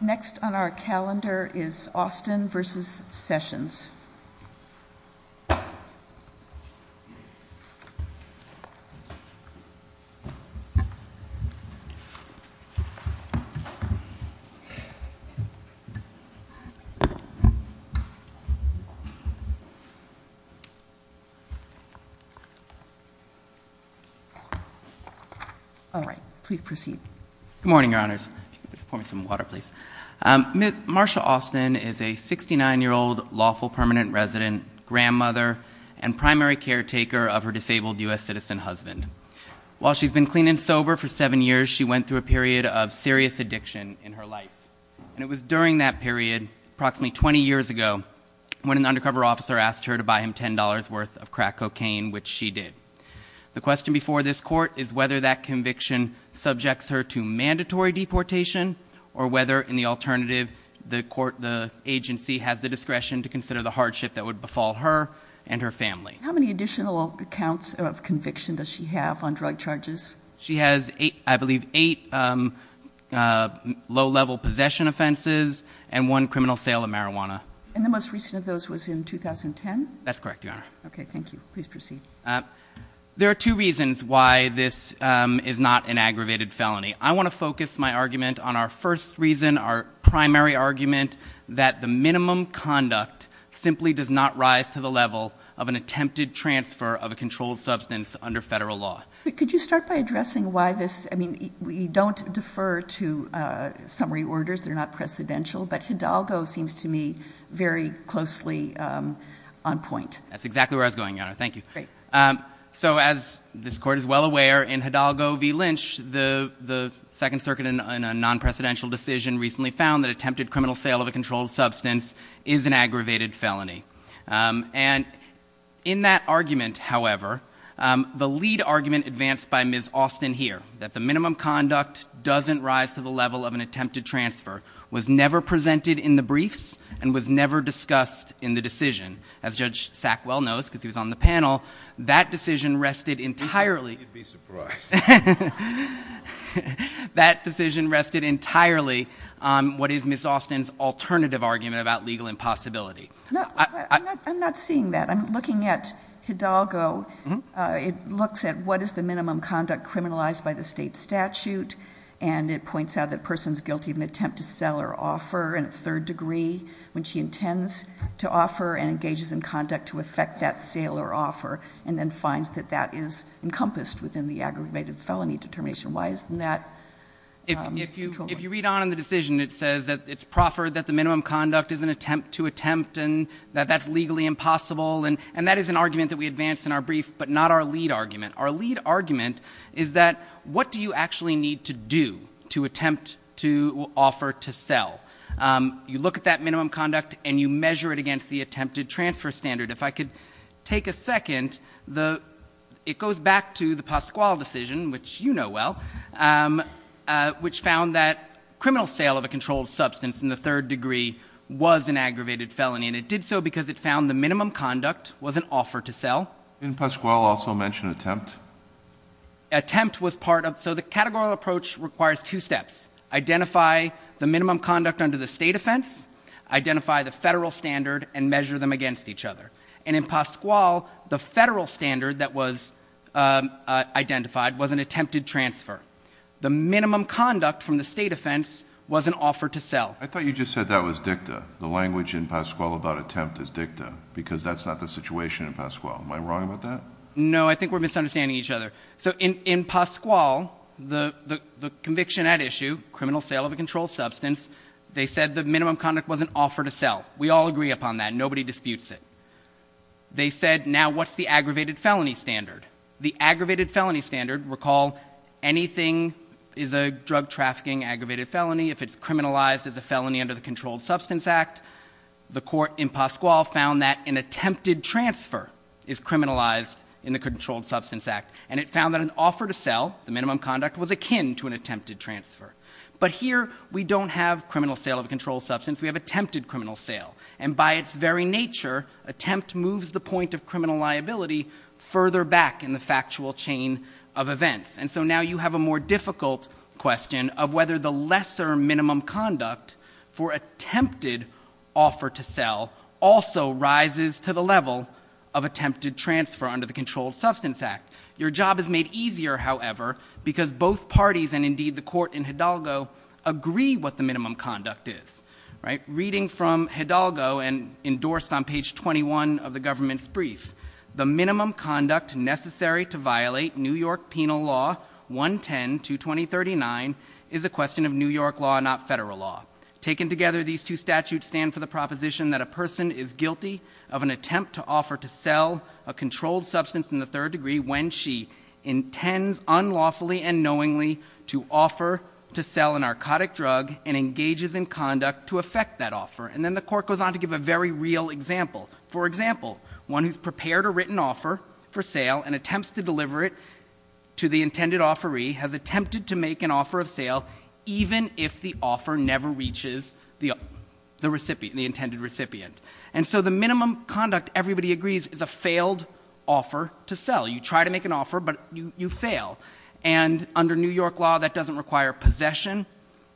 Next on our calendar is Austin v. Sessions. Sessions All right, please proceed. Good morning, Your Honors. Pour me some water, please. Ms. Marsha Austin is a 69-year-old lawful permanent resident, grandmother, and primary caretaker of her disabled U.S. citizen husband. While she's been clean and sober for seven years, she went through a period of serious addiction in her life. And it was during that period, approximately 20 years ago, when an undercover officer asked her to buy him $10 worth of crack cocaine, which she did. The question before this Court is whether that conviction subjects her to mandatory deportation, or whether, in the alternative, the agency has the discretion to consider the hardship that would befall her and her family. How many additional counts of conviction does she have on drug charges? She has, I believe, eight low-level possession offenses and one criminal sale of marijuana. And the most recent of those was in 2010? That's correct, Your Honor. Okay, thank you. Please proceed. There are two reasons why this is not an aggravated felony. I want to focus my argument on our first reason, our primary argument, that the minimum conduct simply does not rise to the level of an attempted transfer of a controlled substance under federal law. Could you start by addressing why this, I mean, you don't defer to summary orders, they're not precedential, but Hidalgo seems to me very closely on point. That's exactly where I was going, Your Honor. Thank you. So as this Court is well aware, in Hidalgo v. Lynch, the Second Circuit in a non-precedential decision recently found that attempted criminal sale of a controlled substance is an aggravated felony. And in that argument, however, the lead argument advanced by Ms. Austin here, that the minimum conduct doesn't rise to the level of an attempted transfer, was never presented in the briefs and was never discussed in the decision. As Judge Sackwell knows, because he was on the panel, that decision rested entirely... You'd be surprised. That decision rested entirely on what is Ms. Austin's alternative argument about legal impossibility. I'm not seeing that. I'm looking at Hidalgo. It looks at what is the minimum conduct criminalized by the state statute, and it points out that a person is guilty of an attempt to sell or offer in a third degree when she intends to offer and engages in conduct to effect that sale or offer, and then finds that that is encompassed within the aggravated felony determination. Why isn't that controlled? If you read on in the decision, it says that it's proffered that the minimum conduct is an attempt to attempt and that that's legally impossible, and that is an argument that we advance in our brief, but not our lead argument. Our lead argument is that what do you actually need to do to attempt to offer to sell? You look at that minimum conduct, and you measure it against the attempted transfer standard. If I could take a second, it goes back to the Pasquale decision, which you know well, which found that criminal sale of a controlled substance in the third degree was an aggravated felony, and it did so because it found the minimum conduct was an offer to sell. Didn't Pasquale also mention attempt? Attempt was part of it. So the categorical approach requires two steps. Identify the minimum conduct under the state offense, identify the federal standard, and measure them against each other. And in Pasquale, the federal standard that was identified was an attempted transfer. The minimum conduct from the state offense was an offer to sell. I thought you just said that was dicta. The language in Pasquale about attempt is dicta because that's not the situation in Pasquale. Am I wrong about that? No, I think we're misunderstanding each other. So in Pasquale, the conviction at issue, criminal sale of a controlled substance, they said the minimum conduct was an offer to sell. We all agree upon that. Nobody disputes it. They said now what's the aggravated felony standard? The aggravated felony standard, recall, anything is a drug trafficking aggravated felony. If it's criminalized as a felony under the Controlled Substance Act, the court in Pasquale found that an attempted transfer is criminalized in the Controlled Substance Act. And it found that an offer to sell, the minimum conduct, was akin to an attempted transfer. But here we don't have criminal sale of a controlled substance. We have attempted criminal sale. And by its very nature, attempt moves the point of criminal liability further back in the factual chain of events. And so now you have a more difficult question of whether the lesser minimum conduct for attempted offer to sell also rises to the level of attempted transfer under the Controlled Substance Act. Your job is made easier, however, because both parties, and indeed the court in Hidalgo, agree what the minimum conduct is. Reading from Hidalgo and endorsed on page 21 of the government's brief, the minimum conduct necessary to violate New York Penal Law 110-2239 is a question of New York law, not federal law. Taken together, these two statutes stand for the proposition that a person is guilty of an attempt to offer to sell a controlled substance in the third degree when she intends unlawfully and knowingly to offer to sell a narcotic drug and engages in conduct to effect that offer. And then the court goes on to give a very real example. For example, one who's prepared a written offer for sale and attempts to deliver it to the intended offeree has attempted to make an offer of sale even if the offer never reaches the intended recipient. And so the minimum conduct, everybody agrees, is a failed offer to sell. You try to make an offer, but you fail. And under New York law, that doesn't require possession.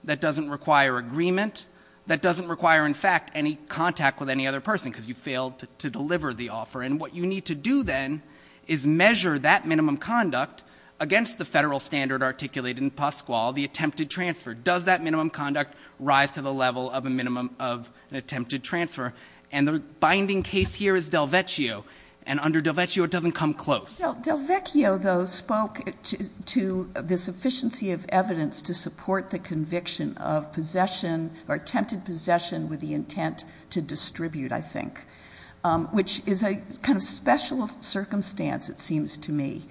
That doesn't require agreement. That doesn't require, in fact, any contact with any other person because you failed to deliver the offer. And what you need to do then is measure that minimum conduct against the federal standard articulated in Pasquale, the attempted transfer. Does that minimum conduct rise to the level of a minimum of an attempted transfer? And the binding case here is Delvecchio. And under Delvecchio, it doesn't come close. Delvecchio, though, spoke to the sufficiency of evidence to support the conviction of possession or attempted possession with the intent to distribute, I think, which is a kind of special circumstance, it seems to me,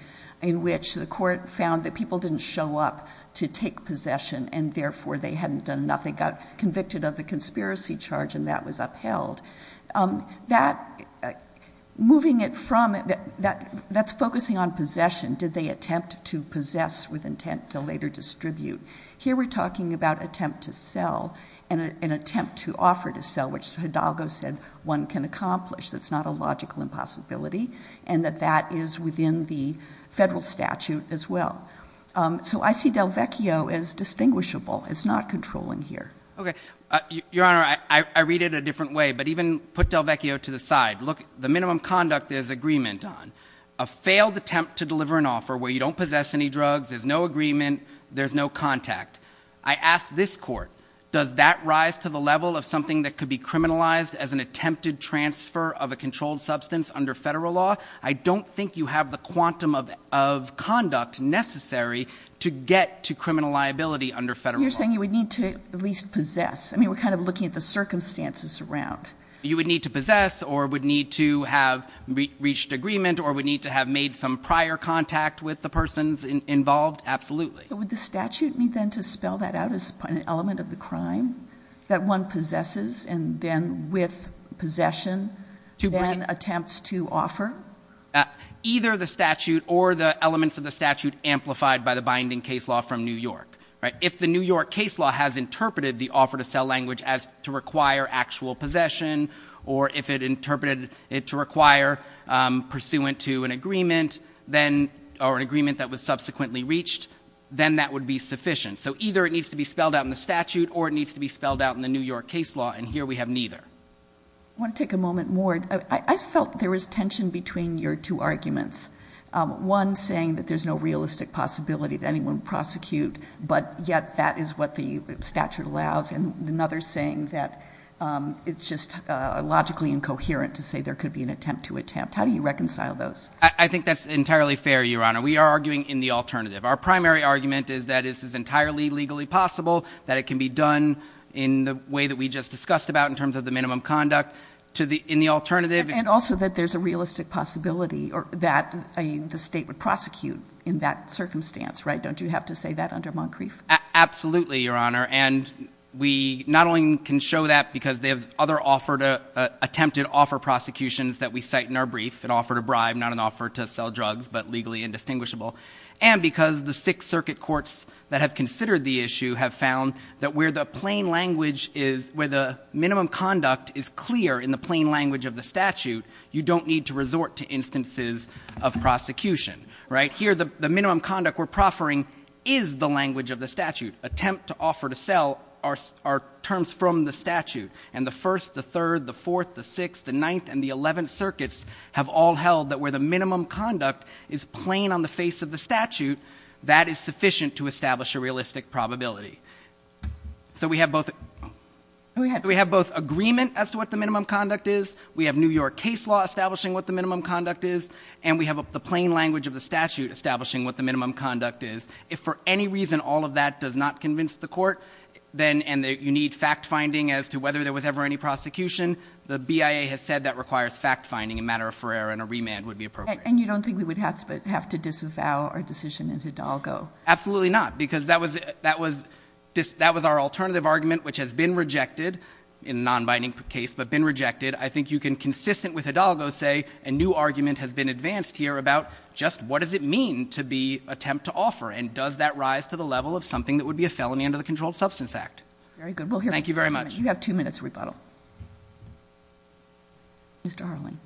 in which the court found that people didn't show up to take possession and therefore they hadn't done enough. They got convicted of the conspiracy charge and that was upheld. That's focusing on possession. Did they attempt to possess with intent to later distribute? Here we're talking about attempt to sell and an attempt to offer to sell, which Hidalgo said one can accomplish. That's not a logical impossibility and that that is within the federal statute as well. So I see Delvecchio as distinguishable. It's not controlling here. Okay. Your Honor, I read it a different way, but even put Delvecchio to the side. Look, the minimum conduct is agreement on. A failed attempt to deliver an offer where you don't possess any drugs, there's no agreement, there's no contact. I ask this court, does that rise to the level of something that could be criminalized as an attempted transfer of a controlled substance under federal law? I don't think you have the quantum of conduct necessary to get to criminal liability under federal law. So you're saying you would need to at least possess? I mean, we're kind of looking at the circumstances around. You would need to possess or would need to have reached agreement or would need to have made some prior contact with the persons involved? Absolutely. Would the statute need then to spell that out as an element of the crime that one possesses and then with possession then attempts to offer? Either the statute or the elements of the statute amplified by the binding case law from New York. If the New York case law has interpreted the offer to sell language as to require actual possession or if it interpreted it to require pursuant to an agreement or an agreement that was subsequently reached, then that would be sufficient. So either it needs to be spelled out in the statute or it needs to be spelled out in the New York case law, and here we have neither. I want to take a moment more. I felt there was tension between your two arguments, one saying that there's no realistic possibility that anyone would prosecute, but yet that is what the statute allows, and another saying that it's just logically incoherent to say there could be an attempt to attempt. How do you reconcile those? I think that's entirely fair, Your Honor. We are arguing in the alternative. Our primary argument is that this is entirely legally possible, that it can be done in the way that we just discussed about in terms of the minimum conduct in the alternative. And also that there's a realistic possibility that the state would prosecute in that circumstance, right? Don't you have to say that under Moncrief? Absolutely, Your Honor. And we not only can show that because they have other attempted offer prosecutions that we cite in our brief, an offer to bribe, not an offer to sell drugs, but legally indistinguishable, and because the Sixth Circuit courts that have considered the issue have found that where the plain language is, where the minimum conduct is clear in the plain language of the statute, you don't need to resort to instances of prosecution, right? Here the minimum conduct we're proffering is the language of the statute. Attempt to offer to sell are terms from the statute, and the First, the Third, the Fourth, the Sixth, the Ninth, and the Eleventh Circuits have all held that where the minimum conduct is plain on the face of the statute, that is sufficient to establish a realistic probability. So we have both agreement as to what the minimum conduct is, we have New York case law establishing what the minimum conduct is, and we have the plain language of the statute establishing what the minimum conduct is. If for any reason all of that does not convince the court, and you need fact-finding as to whether there was ever any prosecution, the BIA has said that requires fact-finding, a matter of forerunner, and a remand would be appropriate. And you don't think we would have to disavow our decision in Hidalgo? Absolutely not, because that was our alternative argument, which has been rejected, in a non-binding case, but been rejected. I think you can, consistent with Hidalgo, say a new argument has been advanced here about just what does it mean to attempt to offer, and does that rise to the level of something that would be a felony under the Controlled Substance Act? Very good. Thank you very much. You have two minutes to rebuttal. Mr. Harlan.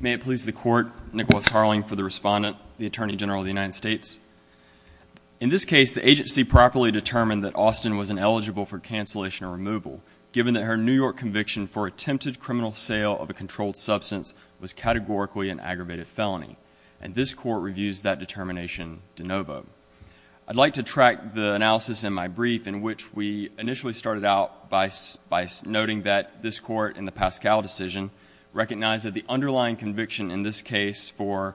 May it please the Court, Nicholas Harlan, for the respondent, the Attorney General of the United States. In this case, the agency properly determined that Austin was ineligible for cancellation or removal, given that her New York conviction for attempted criminal sale of a controlled substance was categorically an aggravated felony, and this Court reviews that determination de novo. I'd like to track the analysis in my brief, in which we initially started out by noting that this Court, in the Pascal decision, recognized that the underlying conviction in this case for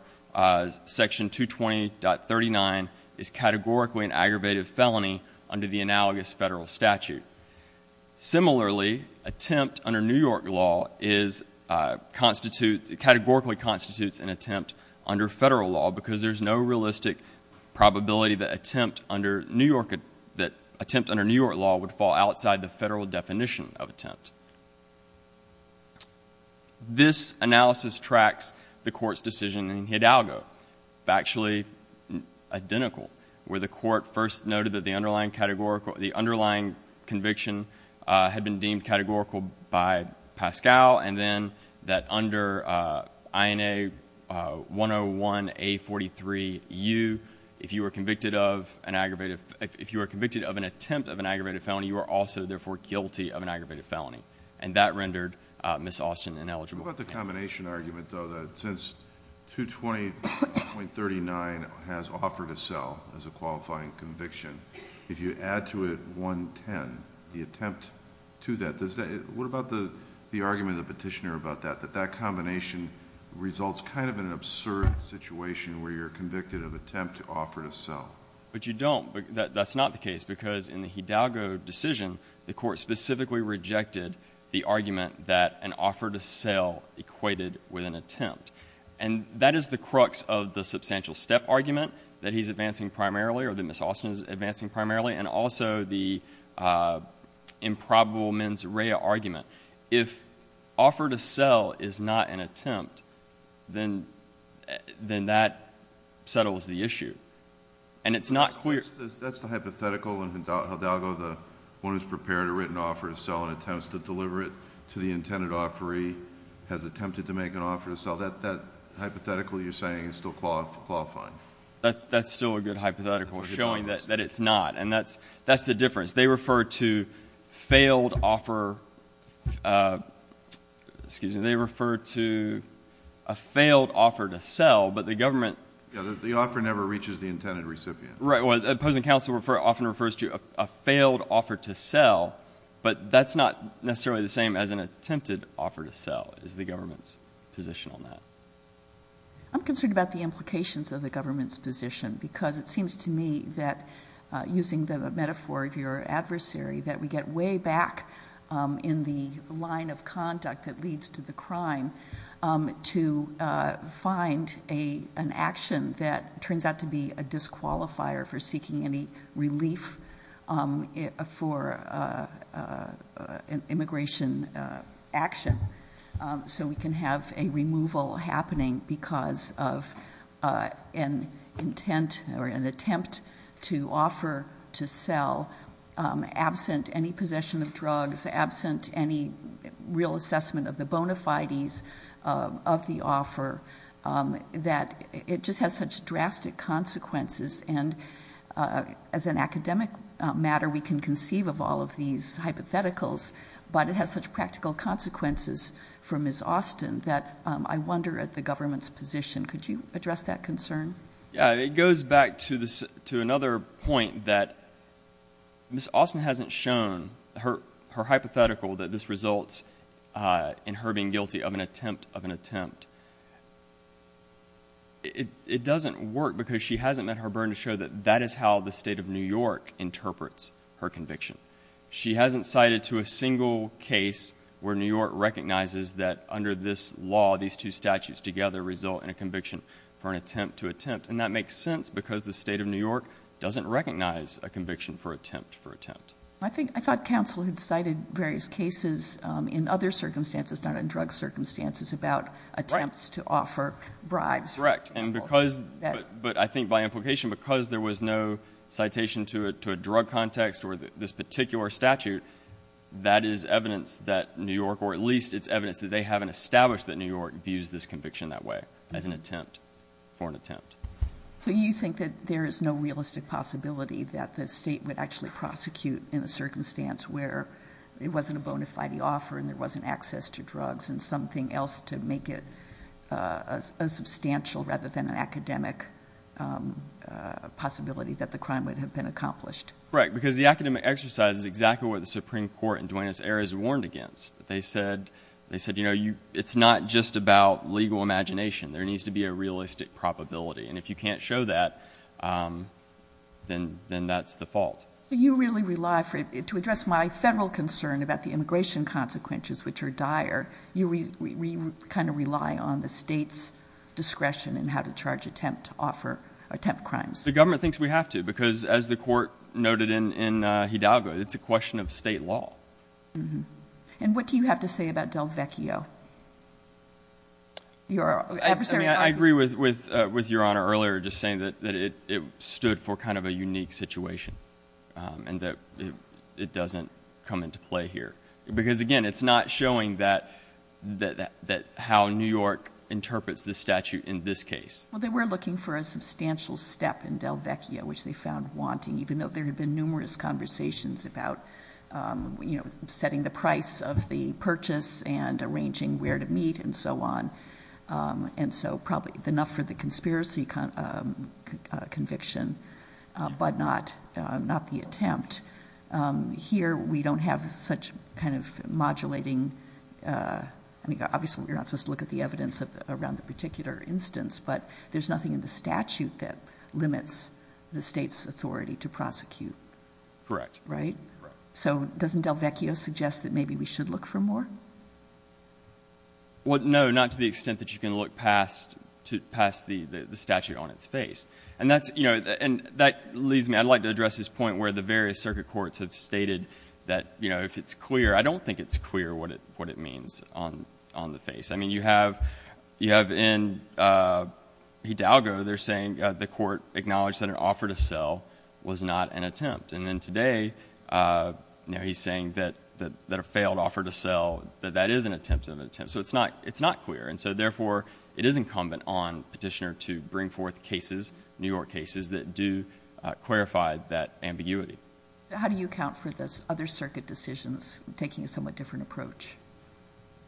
Section 220.39 is categorically an aggravated felony under the analogous federal statute. Similarly, attempt under New York law categorically constitutes an attempt under federal law, because there's no realistic probability that attempt under New York law would fall outside the federal definition of attempt. This analysis tracks the Court's decision in Hidalgo. It's actually identical, where the Court first noted that the underlying conviction had been deemed categorical by Pascal, and then that under INA 101A43U, if you are convicted of an attempt of an aggravated felony, you are also therefore guilty of an aggravated felony. And that rendered Ms. Austin ineligible for cancellation. What about the combination argument, though, that since 220.39 has offered a sale as a qualifying conviction, if you add to it 110, the attempt to that, what about the argument of the petitioner about that, that that combination results kind of in an absurd situation where you're convicted of attempt to offer to sell? But you don't. That's not the case, because in the Hidalgo decision, the Court specifically rejected the argument that an offer to sell equated with an attempt. And that is the crux of the substantial step argument that he's advancing primarily, or that Ms. Austin is advancing primarily, and also the improbable mens rea argument. If offer to sell is not an attempt, then that settles the issue. And it's not clear— That's the hypothetical in Hidalgo. The one who's prepared a written offer to sell and attempts to deliver it to the intended offeree has attempted to make an offer to sell. That hypothetical you're saying is still qualifying. That's still a good hypothetical, showing that it's not. And that's the difference. They refer to failed offer—excuse me. They refer to a failed offer to sell, but the government— Yeah, the offer never reaches the intended recipient. Well, the opposing counsel often refers to a failed offer to sell, but that's not necessarily the same as an attempted offer to sell is the government's position on that. I'm concerned about the implications of the government's position because it seems to me that, using the metaphor of your adversary, that we get way back in the line of conduct that leads to the crime to find an action that turns out to be a disqualifier for seeking any relief for an immigration action, so we can have a removal happening because of an intent or an attempt to offer to sell absent any possession of drugs, absent any real assessment of the bona fides of the offer, that it just has such drastic consequences. And as an academic matter, we can conceive of all of these hypotheticals, but it has such practical consequences for Ms. Austin that I wonder at the government's position. Could you address that concern? Yeah, it goes back to another point that Ms. Austin hasn't shown her hypothetical that this results in her being guilty of an attempt of an attempt. It doesn't work because she hasn't met her burden to show that that is how the state of New York interprets her conviction. She hasn't cited to a single case where New York recognizes that under this law these two statutes together result in a conviction for an attempt to attempt, and that makes sense because the state of New York doesn't recognize a conviction for attempt for attempt. I thought counsel had cited various cases in other circumstances, not in drug circumstances, about attempts to offer bribes, for example. Correct. But I think by implication, because there was no citation to a drug context or this particular statute, that is evidence that New York, or at least it's evidence that they haven't established that New York views this conviction that way as an attempt for an attempt. So you think that there is no realistic possibility that the state would actually prosecute in a circumstance where it wasn't a bona fide offer and there wasn't access to drugs and something else to make it a substantial rather than an academic possibility that the crime would have been accomplished? Right, because the academic exercise is exactly what the Supreme Court in Duane's era is warned against. They said, you know, it's not just about legal imagination. There needs to be a realistic probability, and if you can't show that, then that's the fault. You really rely for it. To address my federal concern about the immigration consequences, which are dire, we kind of rely on the state's discretion in how to charge attempt crimes. The government thinks we have to because, as the court noted in Hidalgo, it's a question of state law. And what do you have to say about Del Vecchio? I agree with Your Honor earlier, just saying that it stood for kind of a unique situation and that it doesn't come into play here. Because, again, it's not showing how New York interprets the statute in this case. Well, they were looking for a substantial step in Del Vecchio, which they found wanting, even though there had been numerous conversations about setting the price of the purchase and arranging where to meet and so on. And so probably enough for the conspiracy conviction, but not the attempt. Here we don't have such kind of modulating. I mean, obviously we're not supposed to look at the evidence around the particular instance, but there's nothing in the statute that limits the state's authority to prosecute. Correct. Right? Correct. So doesn't Del Vecchio suggest that maybe we should look for more? Well, no, not to the extent that you can look past the statute on its face. And that leads me. I'd like to address this point where the various circuit courts have stated that if it's clear, I don't think it's clear what it means on the face. I mean, you have in Hidalgo they're saying the court acknowledged that an offer to sell was not an attempt. And then today, you know, he's saying that a failed offer to sell, that that is an attempt of an attempt. So it's not clear. And so, therefore, it is incumbent on Petitioner to bring forth cases, New York cases, that do clarify that ambiguity. How do you account for the other circuit decisions taking a somewhat different approach?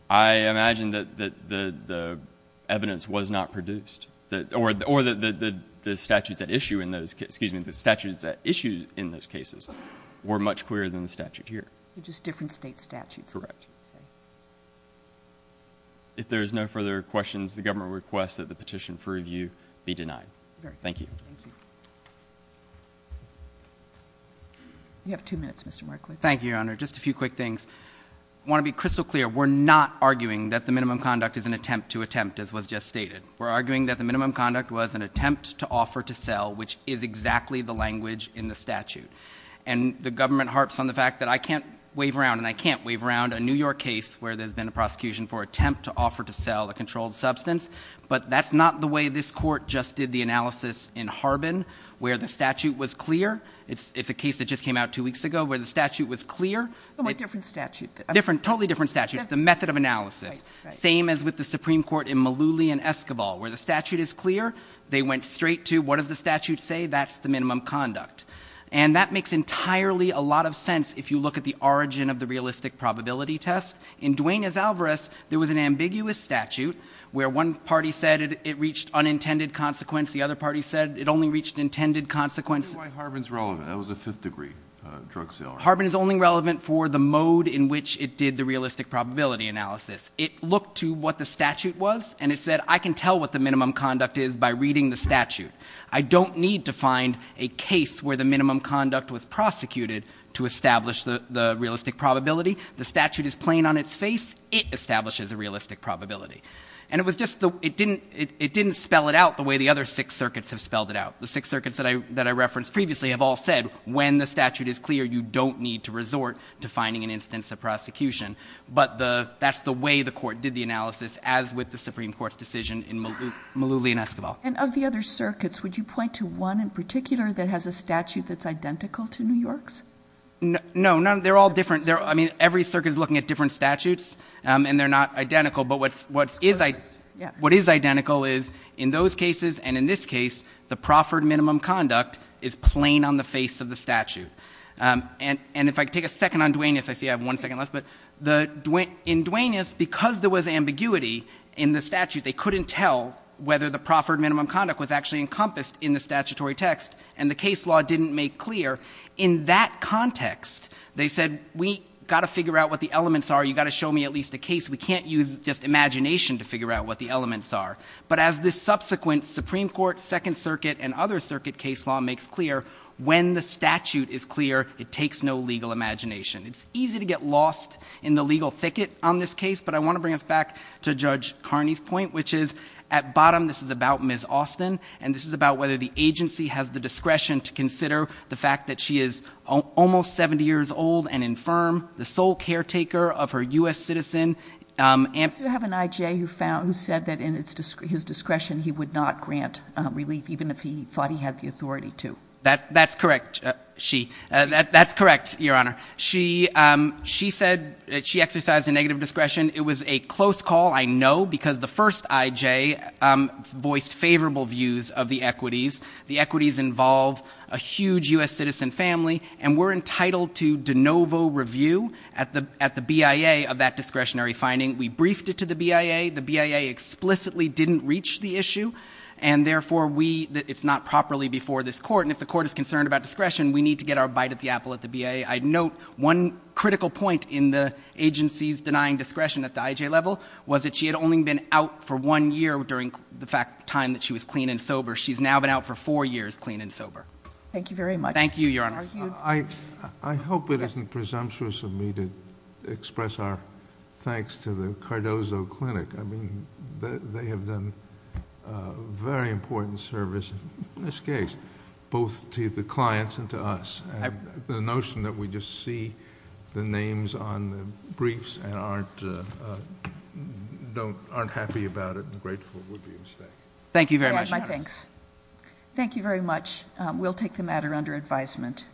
I imagine that the evidence was not produced. Or the statutes at issue in those, excuse me, the statutes at issue in those cases were much clearer than the statute here. Just different state statutes. Correct. If there is no further questions, the government requests that the petition for review be denied. Thank you. Thank you. You have two minutes, Mr. Markowitz. Thank you, Your Honor. Just a few quick things. I want to be crystal clear. We're not arguing that the minimum conduct is an attempt to attempt, as was just stated. We're arguing that the minimum conduct was an attempt to offer to sell, which is exactly the language in the statute. And the government harps on the fact that I can't wave around, and I can't wave around a New York case where there's been a prosecution for an attempt to offer to sell a controlled substance. But that's not the way this court just did the analysis in Harbin, where the statute was clear. It's a case that just came out two weeks ago, where the statute was clear. A different statute. Totally different statute. It's a method of analysis. Right, right. Same as with the Supreme Court in Malooly and Escobar, where the statute is clear. They went straight to, what does the statute say? That's the minimum conduct. And that makes entirely a lot of sense, if you look at the origin of the realistic probability test. In Duane Azalvarez, there was an ambiguous statute, where one party said it reached unintended consequence. The other party said it only reached intended consequence. Tell me why Harbin's relevant. That was a fifth-degree drug sale. Harbin is only relevant for the mode in which it did the realistic probability analysis. It looked to what the statute was, and it said, I can tell what the minimum conduct is by reading the statute. I don't need to find a case where the minimum conduct was prosecuted to establish the realistic probability. The statute is plain on its face. It establishes a realistic probability. And it was just the – it didn't spell it out the way the other six circuits have spelled it out. The six circuits that I referenced previously have all said, when the statute is clear, you don't need to resort to finding an instance of prosecution. But that's the way the court did the analysis, as with the Supreme Court's decision in Malooly and Esquivel. And of the other circuits, would you point to one in particular that has a statute that's identical to New York's? No. They're all different. I mean, every circuit is looking at different statutes, and they're not identical. But what is identical is, in those cases and in this case, the proffered minimum conduct is plain on the face of the statute. And if I could take a second on Duanus. I see I have one second left. But in Duanus, because there was ambiguity in the statute, they couldn't tell whether the proffered minimum conduct was actually encompassed in the statutory text. And the case law didn't make clear. In that context, they said, we've got to figure out what the elements are. You've got to show me at least a case. We can't use just imagination to figure out what the elements are. But as this subsequent Supreme Court, Second Circuit, and other circuit case law makes clear, when the statute is clear, it takes no legal imagination. It's easy to get lost in the legal thicket on this case. But I want to bring us back to Judge Carney's point, which is, at bottom, this is about Ms. Austin. And this is about whether the agency has the discretion to consider the fact that she is almost 70 years old and infirm. The sole caretaker of her U.S. citizen. And. You have an I.J. who found, who said that in his discretion, he would not grant relief, even if he thought he had the authority to. That's correct. She. That's correct, Your Honor. She, she said she exercised a negative discretion. It was a close call, I know, because the first I.J. voiced favorable views of the equities. The equities involve a huge U.S. citizen family. And we're entitled to de novo review at the, at the BIA of that discretionary finding. We briefed it to the BIA. The BIA explicitly didn't reach the issue. And therefore, we, it's not properly before this Court. And if the Court is concerned about discretion, we need to get our bite at the apple at the BIA. I note one critical point in the agency's denying discretion at the I.J. level was that she had only been out for one year during the fact, time that she was clean and sober. She's now been out for four years clean and sober. Thank you very much. Thank you, Your Honor. I hope it isn't presumptuous of me to express our thanks to the Cardozo Clinic. I mean, they have done very important service in this case, both to the clients and to us. The notion that we just see the names on the briefs and aren't, don't, aren't happy about it and grateful would be a mistake. Thank you very much. My thanks. Thank you very much. We'll take the matter under advisement.